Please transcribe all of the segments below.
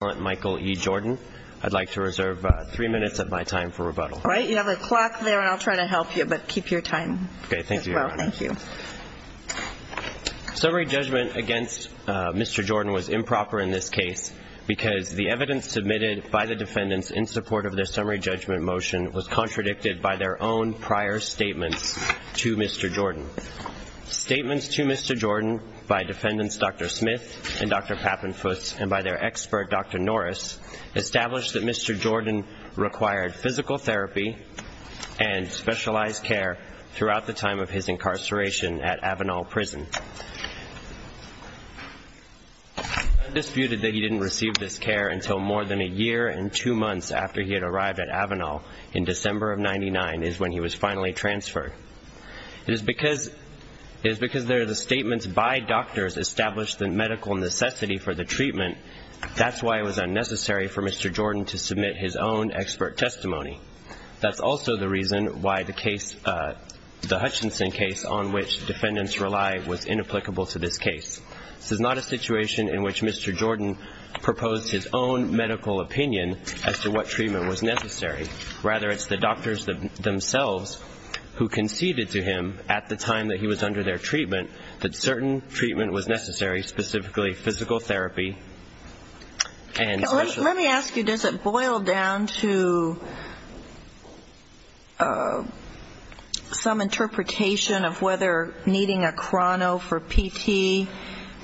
Michael E. Jordan. I'd like to reserve three minutes of my time for rebuttal. All right. You have a clock there, and I'll try to help you, but keep your time as well. Okay. Thank you, Your Honor. Thank you. Summary judgment against Mr. Jordan was improper in this case because the evidence submitted by the defendants in support of their summary judgment motion was contradicted by their own prior statements to Mr. Jordan. Statements to Mr. Jordan by defendants Dr. Smith and Dr. Pappenfuss and by their expert, Dr. Norris, established that Mr. Jordan required physical therapy and specialized care throughout the time of his incarceration at Avenal Prison. I've disputed that he didn't receive this care until more than a year and two months after he had arrived at Avenal in December of 99 is when he was finally transferred. It is because they're the statements by doctors established the medical necessity for the treatment, that's why it was unnecessary for Mr. Jordan to submit his own expert testimony. That's also the reason why the case, the Hutchinson case on which defendants rely was inapplicable to this case. This is not a situation in which Mr. Jordan proposed his own medical opinion as to what treatment was necessary. Rather it's the doctors themselves who conceded to him at the time that he was under their treatment that certain treatment was necessary, specifically physical therapy and special. Let me ask you, does it boil down to some interpretation of whether needing a chrono for PT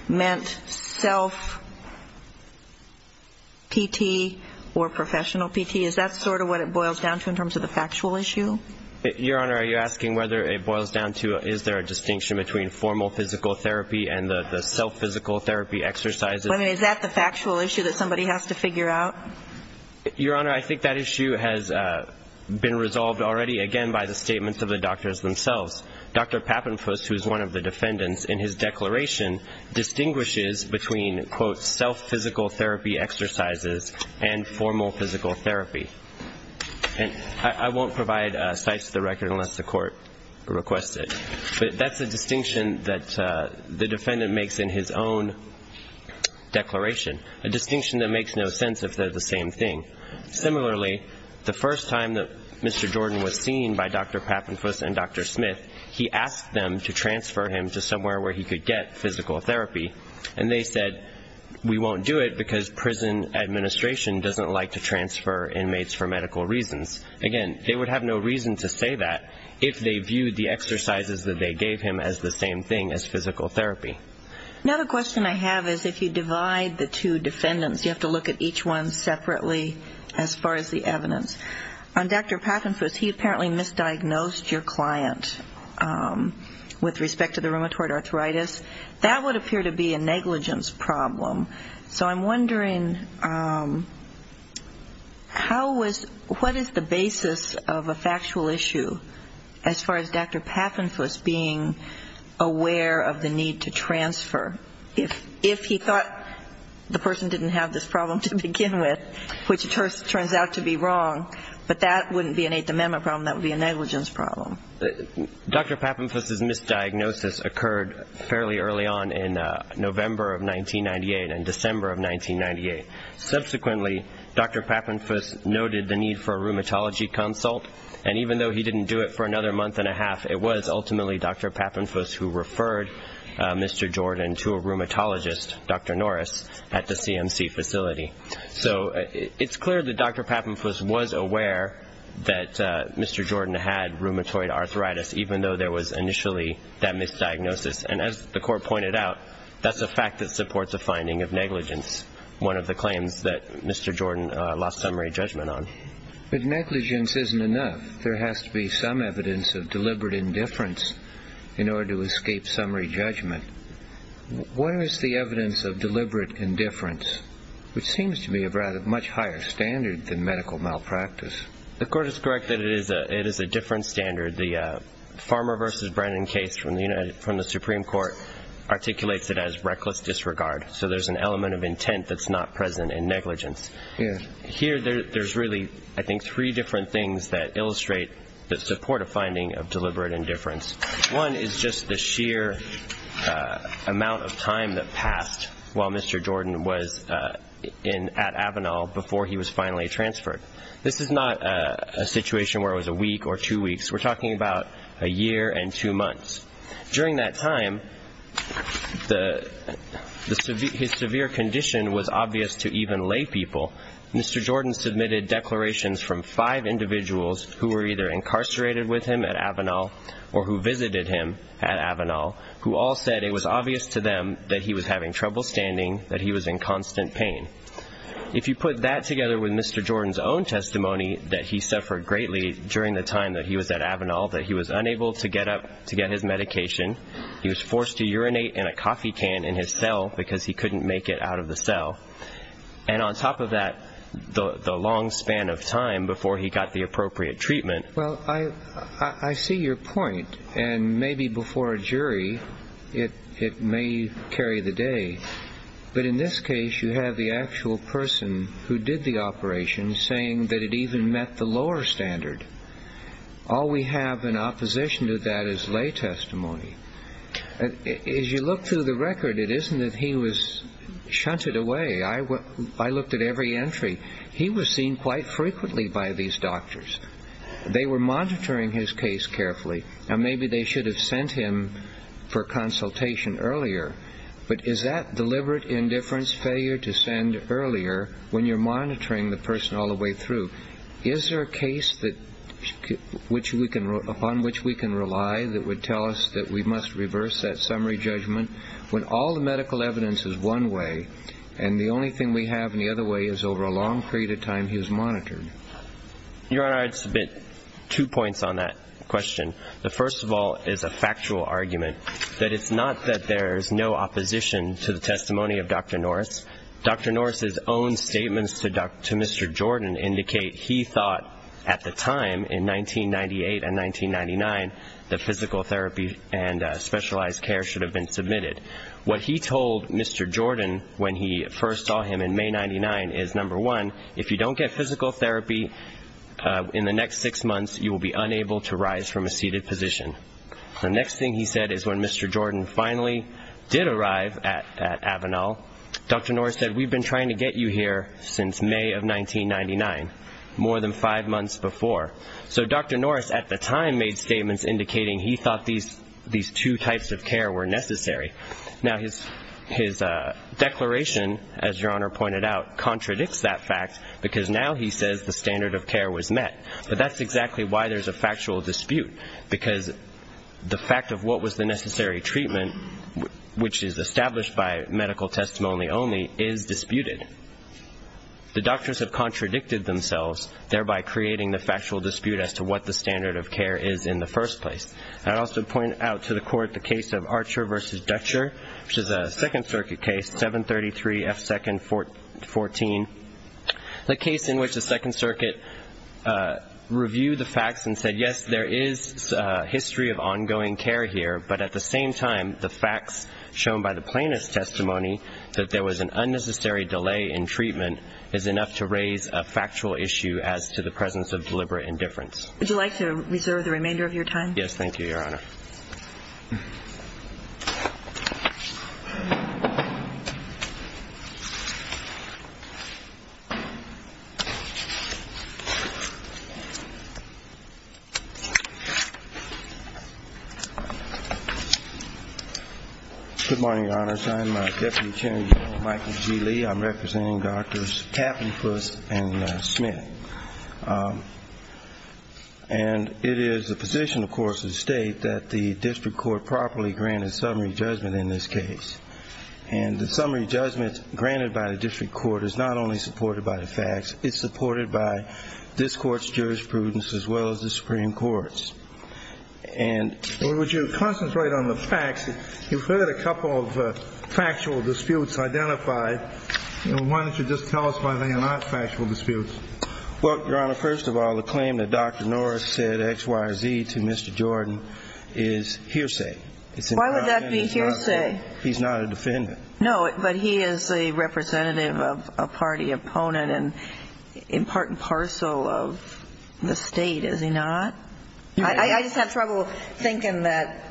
meant self-PT or professional PT? Is that sort of what it boils down to in terms of the factual issue? Your Honor, are you asking whether it boils down to is there a distinction between formal physical therapy and the self-physical therapy exercises? Is that the factual issue that somebody has to figure out? Your Honor, I think that issue has been resolved already, again, by the statements of the doctors themselves. Dr. Pappenfuss, who is one of the defendants, in his declaration distinguishes between quote, self-physical therapy exercises and formal physical therapy. I won't provide sites of the record unless the court requests it. But that's a distinction that the defendant makes in his own declaration, a distinction that makes no sense if they're the same thing. Similarly, the first time that Mr. Jordan was seen by Dr. Pappenfuss and Dr. Smith, he asked them to transfer him to somewhere where he could get physical therapy. And they said, we won't do it because prison administration doesn't like to transfer inmates for medical reasons. Again, they would have no reason to say that if they viewed the exercises that they gave him as the same thing as physical therapy. Another question I have is if you divide the two defendants, you have to look at each one separately as far as the evidence. On Dr. Pappenfuss, he apparently misdiagnosed your client with respect to the rheumatoid arthritis. That would appear to be a negligence problem. So I'm wondering how was the basis of a factual issue as far as Dr. Pappenfuss being aware of the need to transfer? If he thought the person didn't have this problem to begin with, which it turns out to be wrong, but that wouldn't be an Eighth Amendment problem, that would be a negligence problem. Dr. Pappenfuss's misdiagnosis occurred fairly early on in November of 1998 and December of 1998. Subsequently, Dr. Pappenfuss noted the need for a rheumatology consult, and even though he didn't do it for another month and a half, it was ultimately Dr. Pappenfuss who referred Mr. Jordan to a rheumatologist, Dr. Norris, at the CMC facility. So it's clear that Dr. Pappenfuss was aware that Mr. Jordan had rheumatoid arthritis, even though there was initially that misdiagnosis. And as the court pointed out, that's a fact that supports a finding of negligence, one of the claims that Mr. Jordan lost summary judgment on. But negligence isn't enough. There has to be some evidence of deliberate indifference in order to escape summary judgment. Where is the evidence of deliberate indifference? Which seems to me a much higher standard than medical malpractice. The court is correct that it is a different standard. The Farmer v. Brennan case from the Supreme Court articulates it as reckless disregard. So there's an element of intent that's not present in negligence. Here there's really, I think, three different things that illustrate the support of finding of deliberate indifference. One is just the sheer amount of time that passed while Mr. Jordan was at Avenal before he was finally transferred. This is not a situation where it was a week or two weeks. We're talking about a year and two months. During that time, his severe condition was obvious to even lay people. Mr. Jordan submitted declarations from five individuals who were either incarcerated with him at Avenal or who visited him at Avenal, who all said it was obvious to them that he was having trouble standing, that he was in constant pain. If you put that together with Mr. Jordan's own testimony that he suffered greatly during the time that he was at Avenal, that he was unable to get up to get his medication, he was forced to urinate in a coffee can in his cell because he couldn't make it out of the cell, and on top of that, the long span of time before he got the appropriate treatment. Well, I see your point, and maybe before a jury it may carry the day, but in this case you have the actual person who did the operation saying that it even met the lower standard. All we have in opposition to that is lay testimony. As you look through the record, it isn't that he was shunted away. I looked at every entry. He was seen quite frequently by these doctors. They were monitoring his case carefully, and maybe they should have sent him for consultation earlier, but is that deliberate indifference, failure to send earlier when you're monitoring the person all the way through? Is there a case upon which we can rely that would tell us that we must reverse that summary judgment when all the medical evidence is one way and the only thing we have in the other way is over a long period of time he was monitored? Your Honor, I'd submit two points on that question. The first of all is a factual argument that it's not that there's no opposition to the testimony of Dr. Norris. Dr. Norris' own statements to Mr. Jordan indicate he thought at the time in 1998 and 1999 that physical therapy and specialized care should have been submitted. What he told Mr. Jordan when he first saw him in May 1999 is, number one, if you don't get physical therapy in the next six months, you will be unable to rise from a seated position. The next thing he said is when Mr. Jordan finally did arrive at Avenal, Dr. Norris said, we've been trying to get you here since May of 1999, more than five months before. So Dr. Norris at the time made statements indicating he thought these two types of care were necessary. Now, his declaration, as Your Honor pointed out, contradicts that fact because now he says the standard of care was met. But that's exactly why there's a factual dispute, because the fact of what was the necessary treatment, which is established by medical testimony only, is disputed. The doctors have contradicted themselves, thereby creating the factual dispute as to what the standard of care is in the first place. I'd also point out to the Court the case of Archer v. Dutcher, which is a Second Circuit case, 733 F. 2nd 14. The case in which the Second Circuit reviewed the facts and said, yes, there is history of ongoing care here, but at the same time, the facts shown by the plaintiff's testimony that there was an unnecessary delay in treatment is enough to raise a factual issue as to the presence of deliberate indifference. Would you like to reserve the remainder of your time? Yes, thank you, Your Honor. Good morning, Your Honors. I'm Deputy Attorney Michael G. Lee. I'm representing Drs. Kaplan, Puss, and Smith. And it is the position, of course, of the State that the district court properly granted summary judgment in this case. And the summary judgment granted by the district court is not only supported by the facts. It's supported by this Court's jurisprudence as well as the Supreme Court's. And would you concentrate on the facts? You've heard a couple of factual disputes identified. Why don't you just tell us why they are not factual disputes? Well, Your Honor, first of all, the claim that Dr. Norris said X, Y, or Z to Mr. Jordan is hearsay. Why would that be hearsay? He's not a defendant. No, but he is a representative of a party opponent and important parcel of the State, is he not? I just have trouble thinking that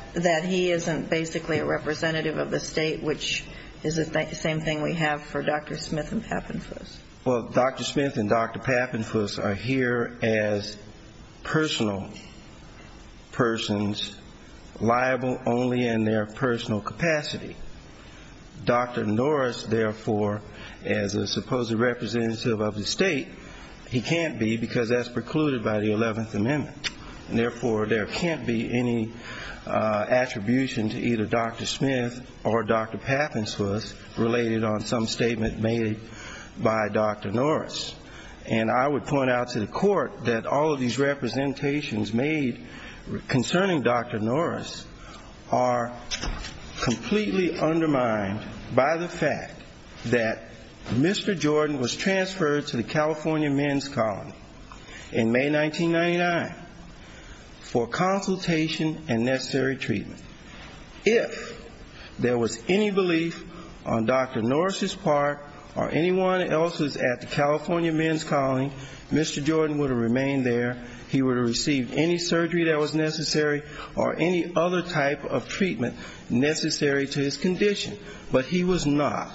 he isn't basically a representative of the State, which is the same thing we have for Dr. Smith and Pappenfuss. Well, Dr. Smith and Dr. Pappenfuss are here as personal persons, liable only in their personal capacity. Dr. Norris, therefore, as a supposed representative of the State, he can't be because that's precluded by the 11th Amendment. And therefore, there can't be any attribution to either Dr. Smith or Dr. Pappenfuss related on some statement made by Dr. Norris. And I would point out to the Court that all of these representations made concerning Dr. Norris are completely undermined by the fact that Mr. Jordan was transferred to the California men's colony in May 1999 for consultation and necessary treatment. If there was any belief on Dr. Norris' part or anyone else's at the California men's colony, Mr. Jordan would have remained there. He would have received any surgery that was necessary or any other type of treatment necessary to his condition, but he was not.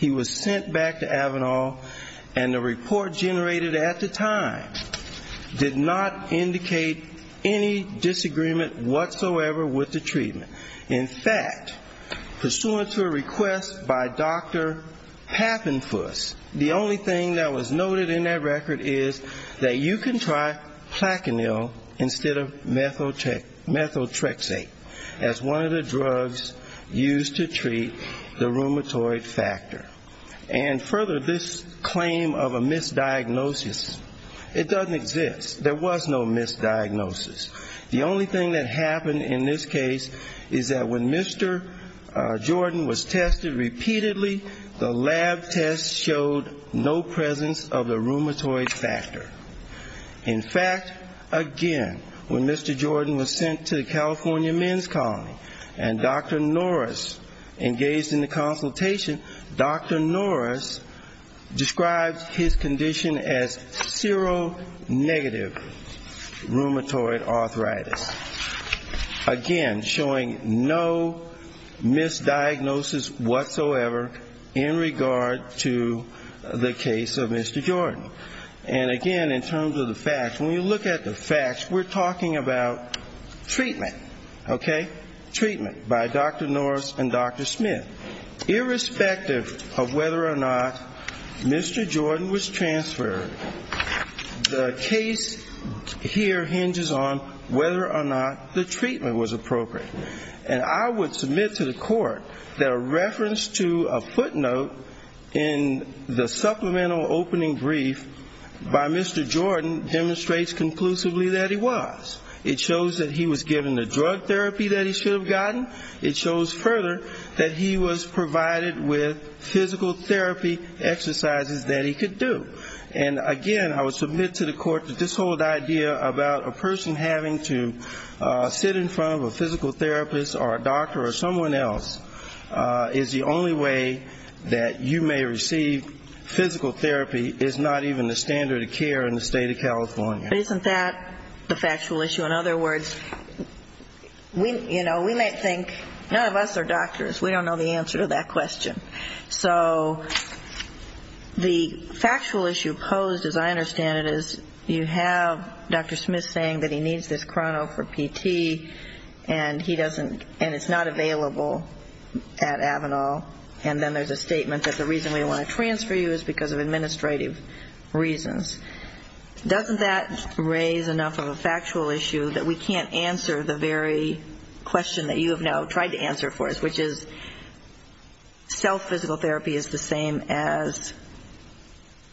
And the report generated at the time did not indicate any disagreement whatsoever with the treatment. In fact, pursuant to a request by Dr. Pappenfuss, the only thing that was noted in that record is that you can try placanil instead of methotrexate as one of the drugs used to treat the rheumatoid factor. And further, this claim of a misdiagnosis, it doesn't exist. There was no misdiagnosis. The only thing that happened in this case is that when Mr. Jordan was tested repeatedly, the lab tests showed no presence of the rheumatoid factor. In fact, again, when Mr. Jordan was sent to the California men's colony and Dr. Norris engaged in the consultation, Dr. Norris described his condition as seronegative rheumatoid arthritis, again, showing no misdiagnosis whatsoever in regard to the case of Mr. Jordan. And again, in terms of the facts, when you look at the facts, we're talking about treatment, okay, treatment by Dr. Norris and Dr. Smith. Irrespective of whether or not Mr. Jordan was transferred, the case here hinges on whether or not the treatment was appropriate. And I would submit to the court that a reference to a footnote in the supplemental opening brief by Mr. Jordan demonstrates conclusively that he was. It shows that he was given the drug therapy that he should have gotten. It shows further that he was provided with physical therapy exercises that he could do. And again, I would submit to the court that this whole idea about a person having to sit in front of a physical therapist or a doctor or someone else is the only way that you may receive physical therapy is not even the standard of care in the state of California. Isn't that the factual issue? In other words, you know, we might think, none of us are doctors. We don't know the answer to that question. So the factual issue posed, as I understand it, is you have Dr. Smith saying that he needs this chrono for PT, and he doesn't, and it's not available at Avanal, and then there's a statement that the reason we want to transfer you is because of administrative reasons. Doesn't that raise enough of a factual issue that we can't answer the very question that you have now tried to answer for us, which is self-assessment. Self-physical therapy is the same as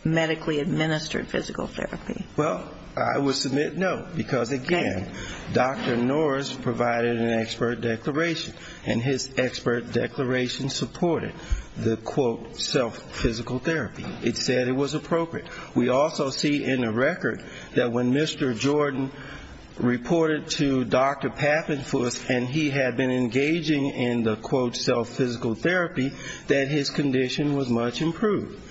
medically administered physical therapy. Well, I would submit no, because again, Dr. Norris provided an expert declaration, and his expert declaration supported the, quote, self-physical therapy. It said it was appropriate. We also see in the record that when Mr. Jordan reported to Dr. Pappenfuss and he had been engaging in the, quote, self-physical therapy, that his condition was much improved.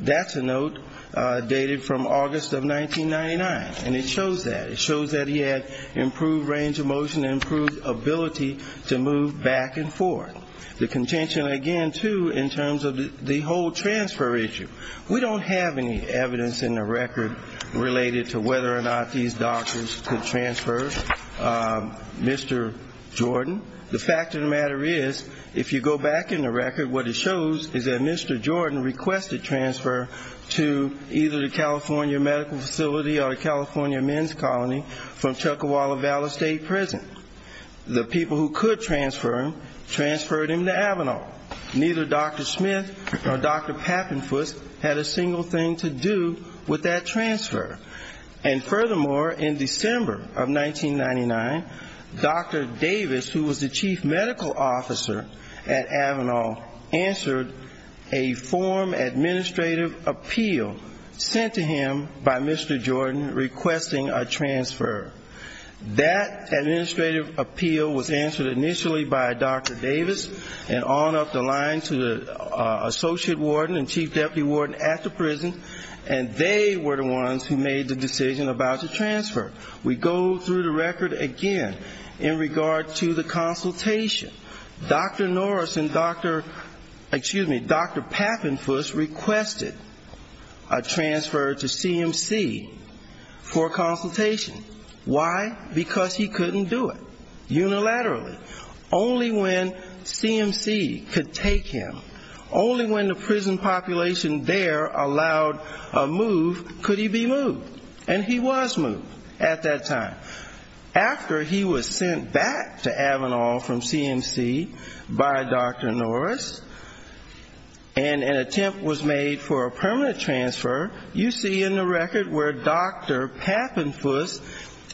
That's a note dated from August of 1999, and it shows that. It shows that he had improved range of motion, improved ability to move back and forth. The contention again, too, in terms of the whole transfer issue. We don't have any evidence in the record related to whether or not these doctors could transfer Mr. Jordan. The fact of the matter is, if you go back in the record, what it shows is that Mr. Jordan requested transfer to either the California medical facility or the California men's colony from Chuck Walla Valley State Prison. The people who could transfer him, transferred him to Avanall. Neither Dr. Smith or Dr. Pappenfuss had a single thing to do with that transfer. And furthermore, in December of 1999, Dr. Davis, who was the chief medical officer at Avanall, answered a form administrative appeal sent to him by Mr. Jordan requesting a transfer. That administrative appeal was answered initially by Dr. Davis and on up the line to the associate warden and chief deputy warden at the prison, and they were the ones who made the transfer. We go through the record again in regard to the consultation. Dr. Norris and Dr. Pappenfuss requested a transfer to CMC for consultation. Why? Because he couldn't do it unilaterally. Only when CMC could take him, only when the prison population there allowed a move could he be moved. And he was moved at that time. After he was sent back to Avanall from CMC by Dr. Norris and an attempt was made for a permanent transfer, you see in the record where Dr. Pappenfuss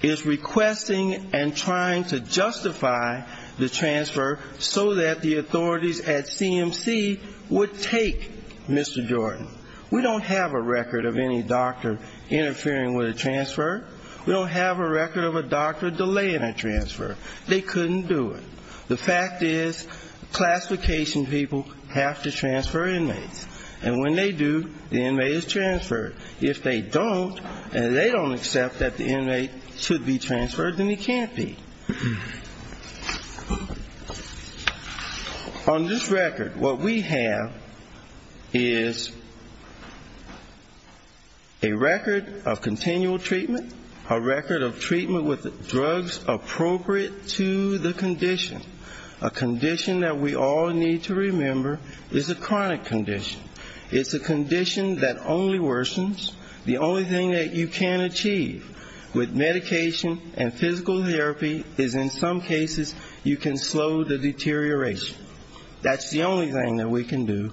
is requesting and trying to justify the transfer so that the authorities at CMC would take Mr. Jordan. We don't have a record of any doctor interfering with that transfer. We don't have a record of a doctor delaying that transfer. They couldn't do it. The fact is classification people have to transfer inmates. And when they do, the inmate is transferred. If they don't and they don't accept that the inmate should be transferred, he can't be. On this record, what we have is a record of consent information to the inmates on different levels. But I'm not attending for thepatients, because that would require one of the inmates to register for consent information that the invaker wanted according to adult instruction. They ended up signing an email with theoniknsmithwithadop.com and they said the inmate should be propped to the city but this is not a good procedure to do. I'm telling you now. You couldn't do it at this point. If they did, and they did, we would get us to a component that talks more about continual treatment, a record of treatment with drugs appropriate to the condition. A condition that we all need to remember is a chronic condition. It's a condition that only worsens. The only thing that you can achieve with medication and physical therapy is in some cases you can slow the deterioration. That's the only thing that we can do with Mr. Jordan received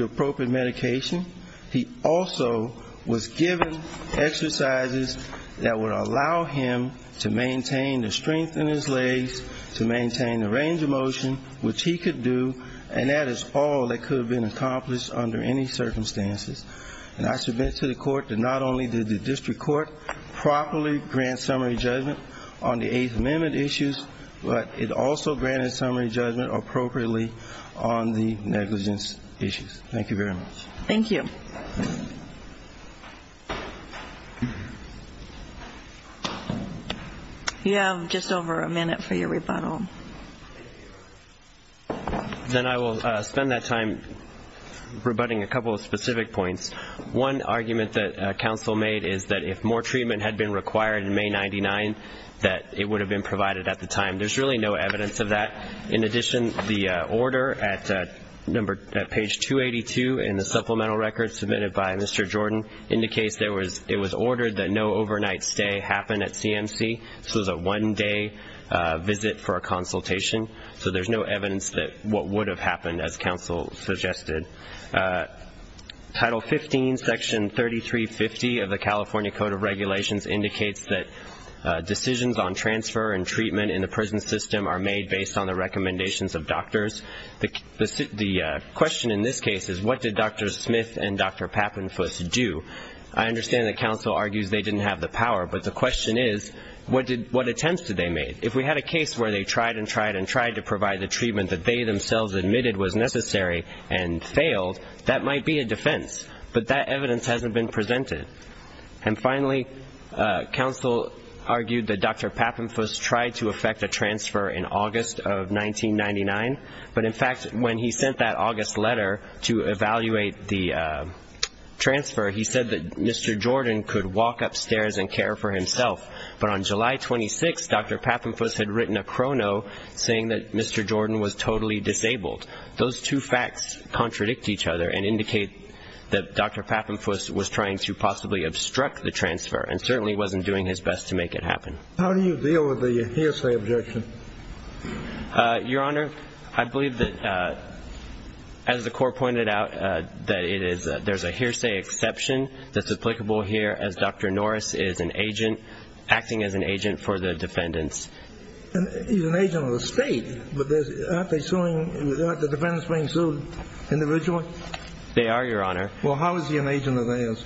appropriate medication. He also was given exercises that would allow him to maintain the strength in his legs, to maintain the range of motion, which he could do, and that is all that could have been accomplished under any circumstances. And I submit to the court that not only did the district court properly grant summary judgment on the Eighth Amendment issues, but it also granted summary judgment appropriately on the negligence issues. Thank you very much. Thank you. You have just over a minute for your rebuttal. Then I will spend that time rebutting a couple of specific points. One argument that counsel made is that if more treatment had been provided, that in addition the order at page 282 in the supplemental record submitted by Mr. Jordan indicates it was ordered that no overnight stay happen at CMC. So it was a one-day visit for a consultation. So there's no evidence that what would have happened, as counsel suggested. Title 15, section 3350 of the California Code of Regulations indicates that decisions on transfer and treatment in the United States should be based on the recommendations of doctors. The question in this case is, what did Dr. Smith and Dr. Papenfuss do? I understand that counsel argues they didn't have the power, but the question is, what attempts did they make? If we had a case where they tried and tried and tried to provide the treatment that they themselves admitted was necessary and failed, that might be a defense. But that might be a defense. But in fact, when he sent that August letter to evaluate the transfer, he said that Mr. Jordan could walk upstairs and care for himself. But on July 26th, Dr. Papenfuss had written a chrono saying that Mr. Jordan was totally disabled. Those two facts contradict each other and indicate that Dr. Papenfuss was trying to possibly obstruct the transfer and certainly wasn't doing his best to make it happen. Your Honor, I believe that as the court pointed out, that there's a hearsay exception that's applicable here as Dr. Norris is an agent, acting as an agent for the defendants. He's an agent of the state, but aren't the defendants being sued individually? They are, Your Honor. Well, how is he an agent of theirs?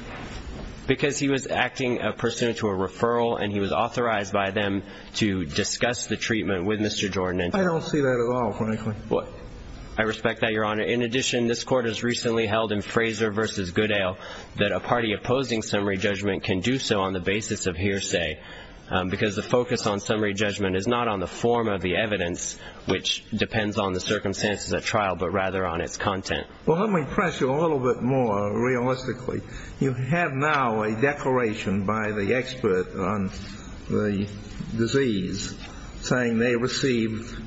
Because he was acting pursuant to a referral and he was authorized by them to discuss the treatment with Mr. Jordan. I don't see that at all, frankly. I respect that, Your Honor. In addition, this court has recently held in Fraser v. Goodale that a party opposing summary judgment can do so on the basis of hearsay because the focus on summary judgment is not on the form of the evidence, which depends on the circumstances of trial, but rather on its content. Well, let me press you a little bit more realistically. You have now a expert on the disease saying they received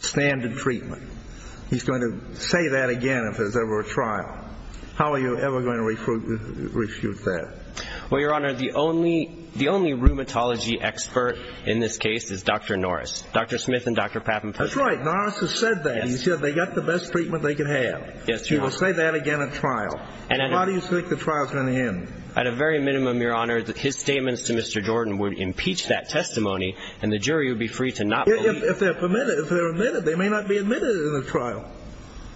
standard treatment. He's going to say that again if there's ever a trial. How are you ever going to refute that? Well, Your Honor, the only rheumatology expert in this case is Dr. Norris. Dr. Smith and Dr. Papin. That's right. Norris has said that. Yes, Your Honor. He will say that again at trial. And how do you think the trial is going to end? At a very minimum, Your Honor, his statements to Mr. Jordan would impeach that testimony and the jury would be free to not believe that. If they're permitted, if they're admitted, they may not be admitted in the trial.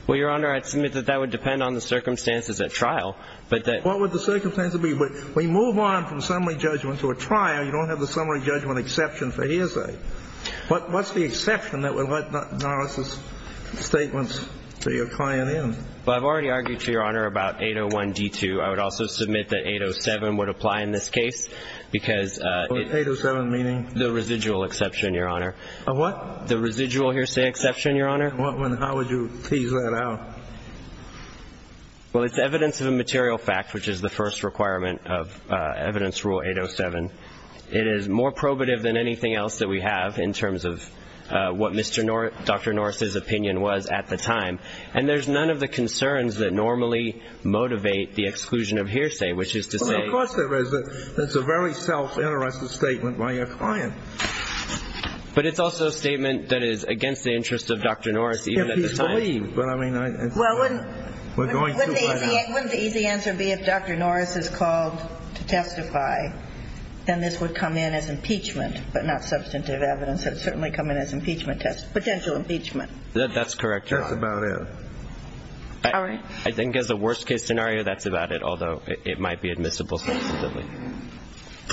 Well, Your Honor, I'd submit that that would depend on the circumstances at trial, but that... What would the circumstances be? When we move on from summary judgment to a trial, you don't have the summary judgment exception for hearsay. What's the exception that would let Norris' statements to your client end? Well, I've already argued to Your Honor about 801D2. I would also submit that 807 would apply in this case because... 807 meaning? The residual exception, Your Honor. A what? The residual hearsay exception, Your Honor. How would you tease that out? Well, it's evidence of a material fact, which is the first requirement of evidence rule 807. It is more probative than anything else that we have in terms of what Dr. Norris' opinion was at the time. And there's none of the concerns that normally motivate the exclusion of hearsay, which is to say... Well, of course there is. It's a very self-interested statement by your client. But it's also a statement that is against the interest of Dr. Norris even at the time. If he's believed, but I mean... Well, wouldn't... Wouldn't the easy answer be if Dr. Norris is called to testify, then this would come in as impeachment, but not substantive evidence. It would certainly come in as impeachment test, potential impeachment. That's correct, Your Honor. That's about it. All right. I think as a worst-case scenario, that's about it, although it might be admissible substantively.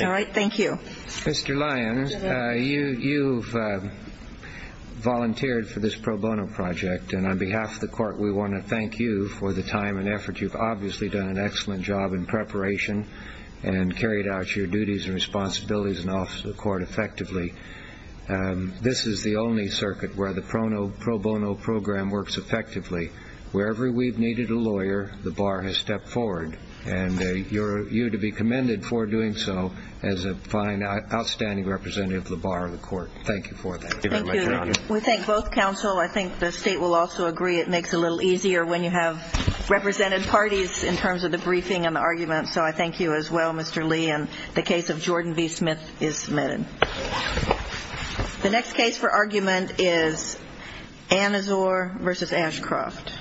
All right. Thank you. Mr. Lyons, you've volunteered for this pro bono project, and on behalf of the court, we want to thank you for the time and effort. You've obviously done an excellent job in preparation and carried out your duties and responsibilities in behalf of the court effectively. This is the only circuit where the pro bono program works effectively. Wherever we've needed a lawyer, the bar has stepped forward, and you're to be commended for doing so as a fine, outstanding representative of the bar of the court. Thank you for that. Thank you. We thank both counsel. I think the state will also agree it makes it a little easier when you have represented parties in terms of the briefing and testimony submitted. The next case for argument is Annazor v. Ashcroft.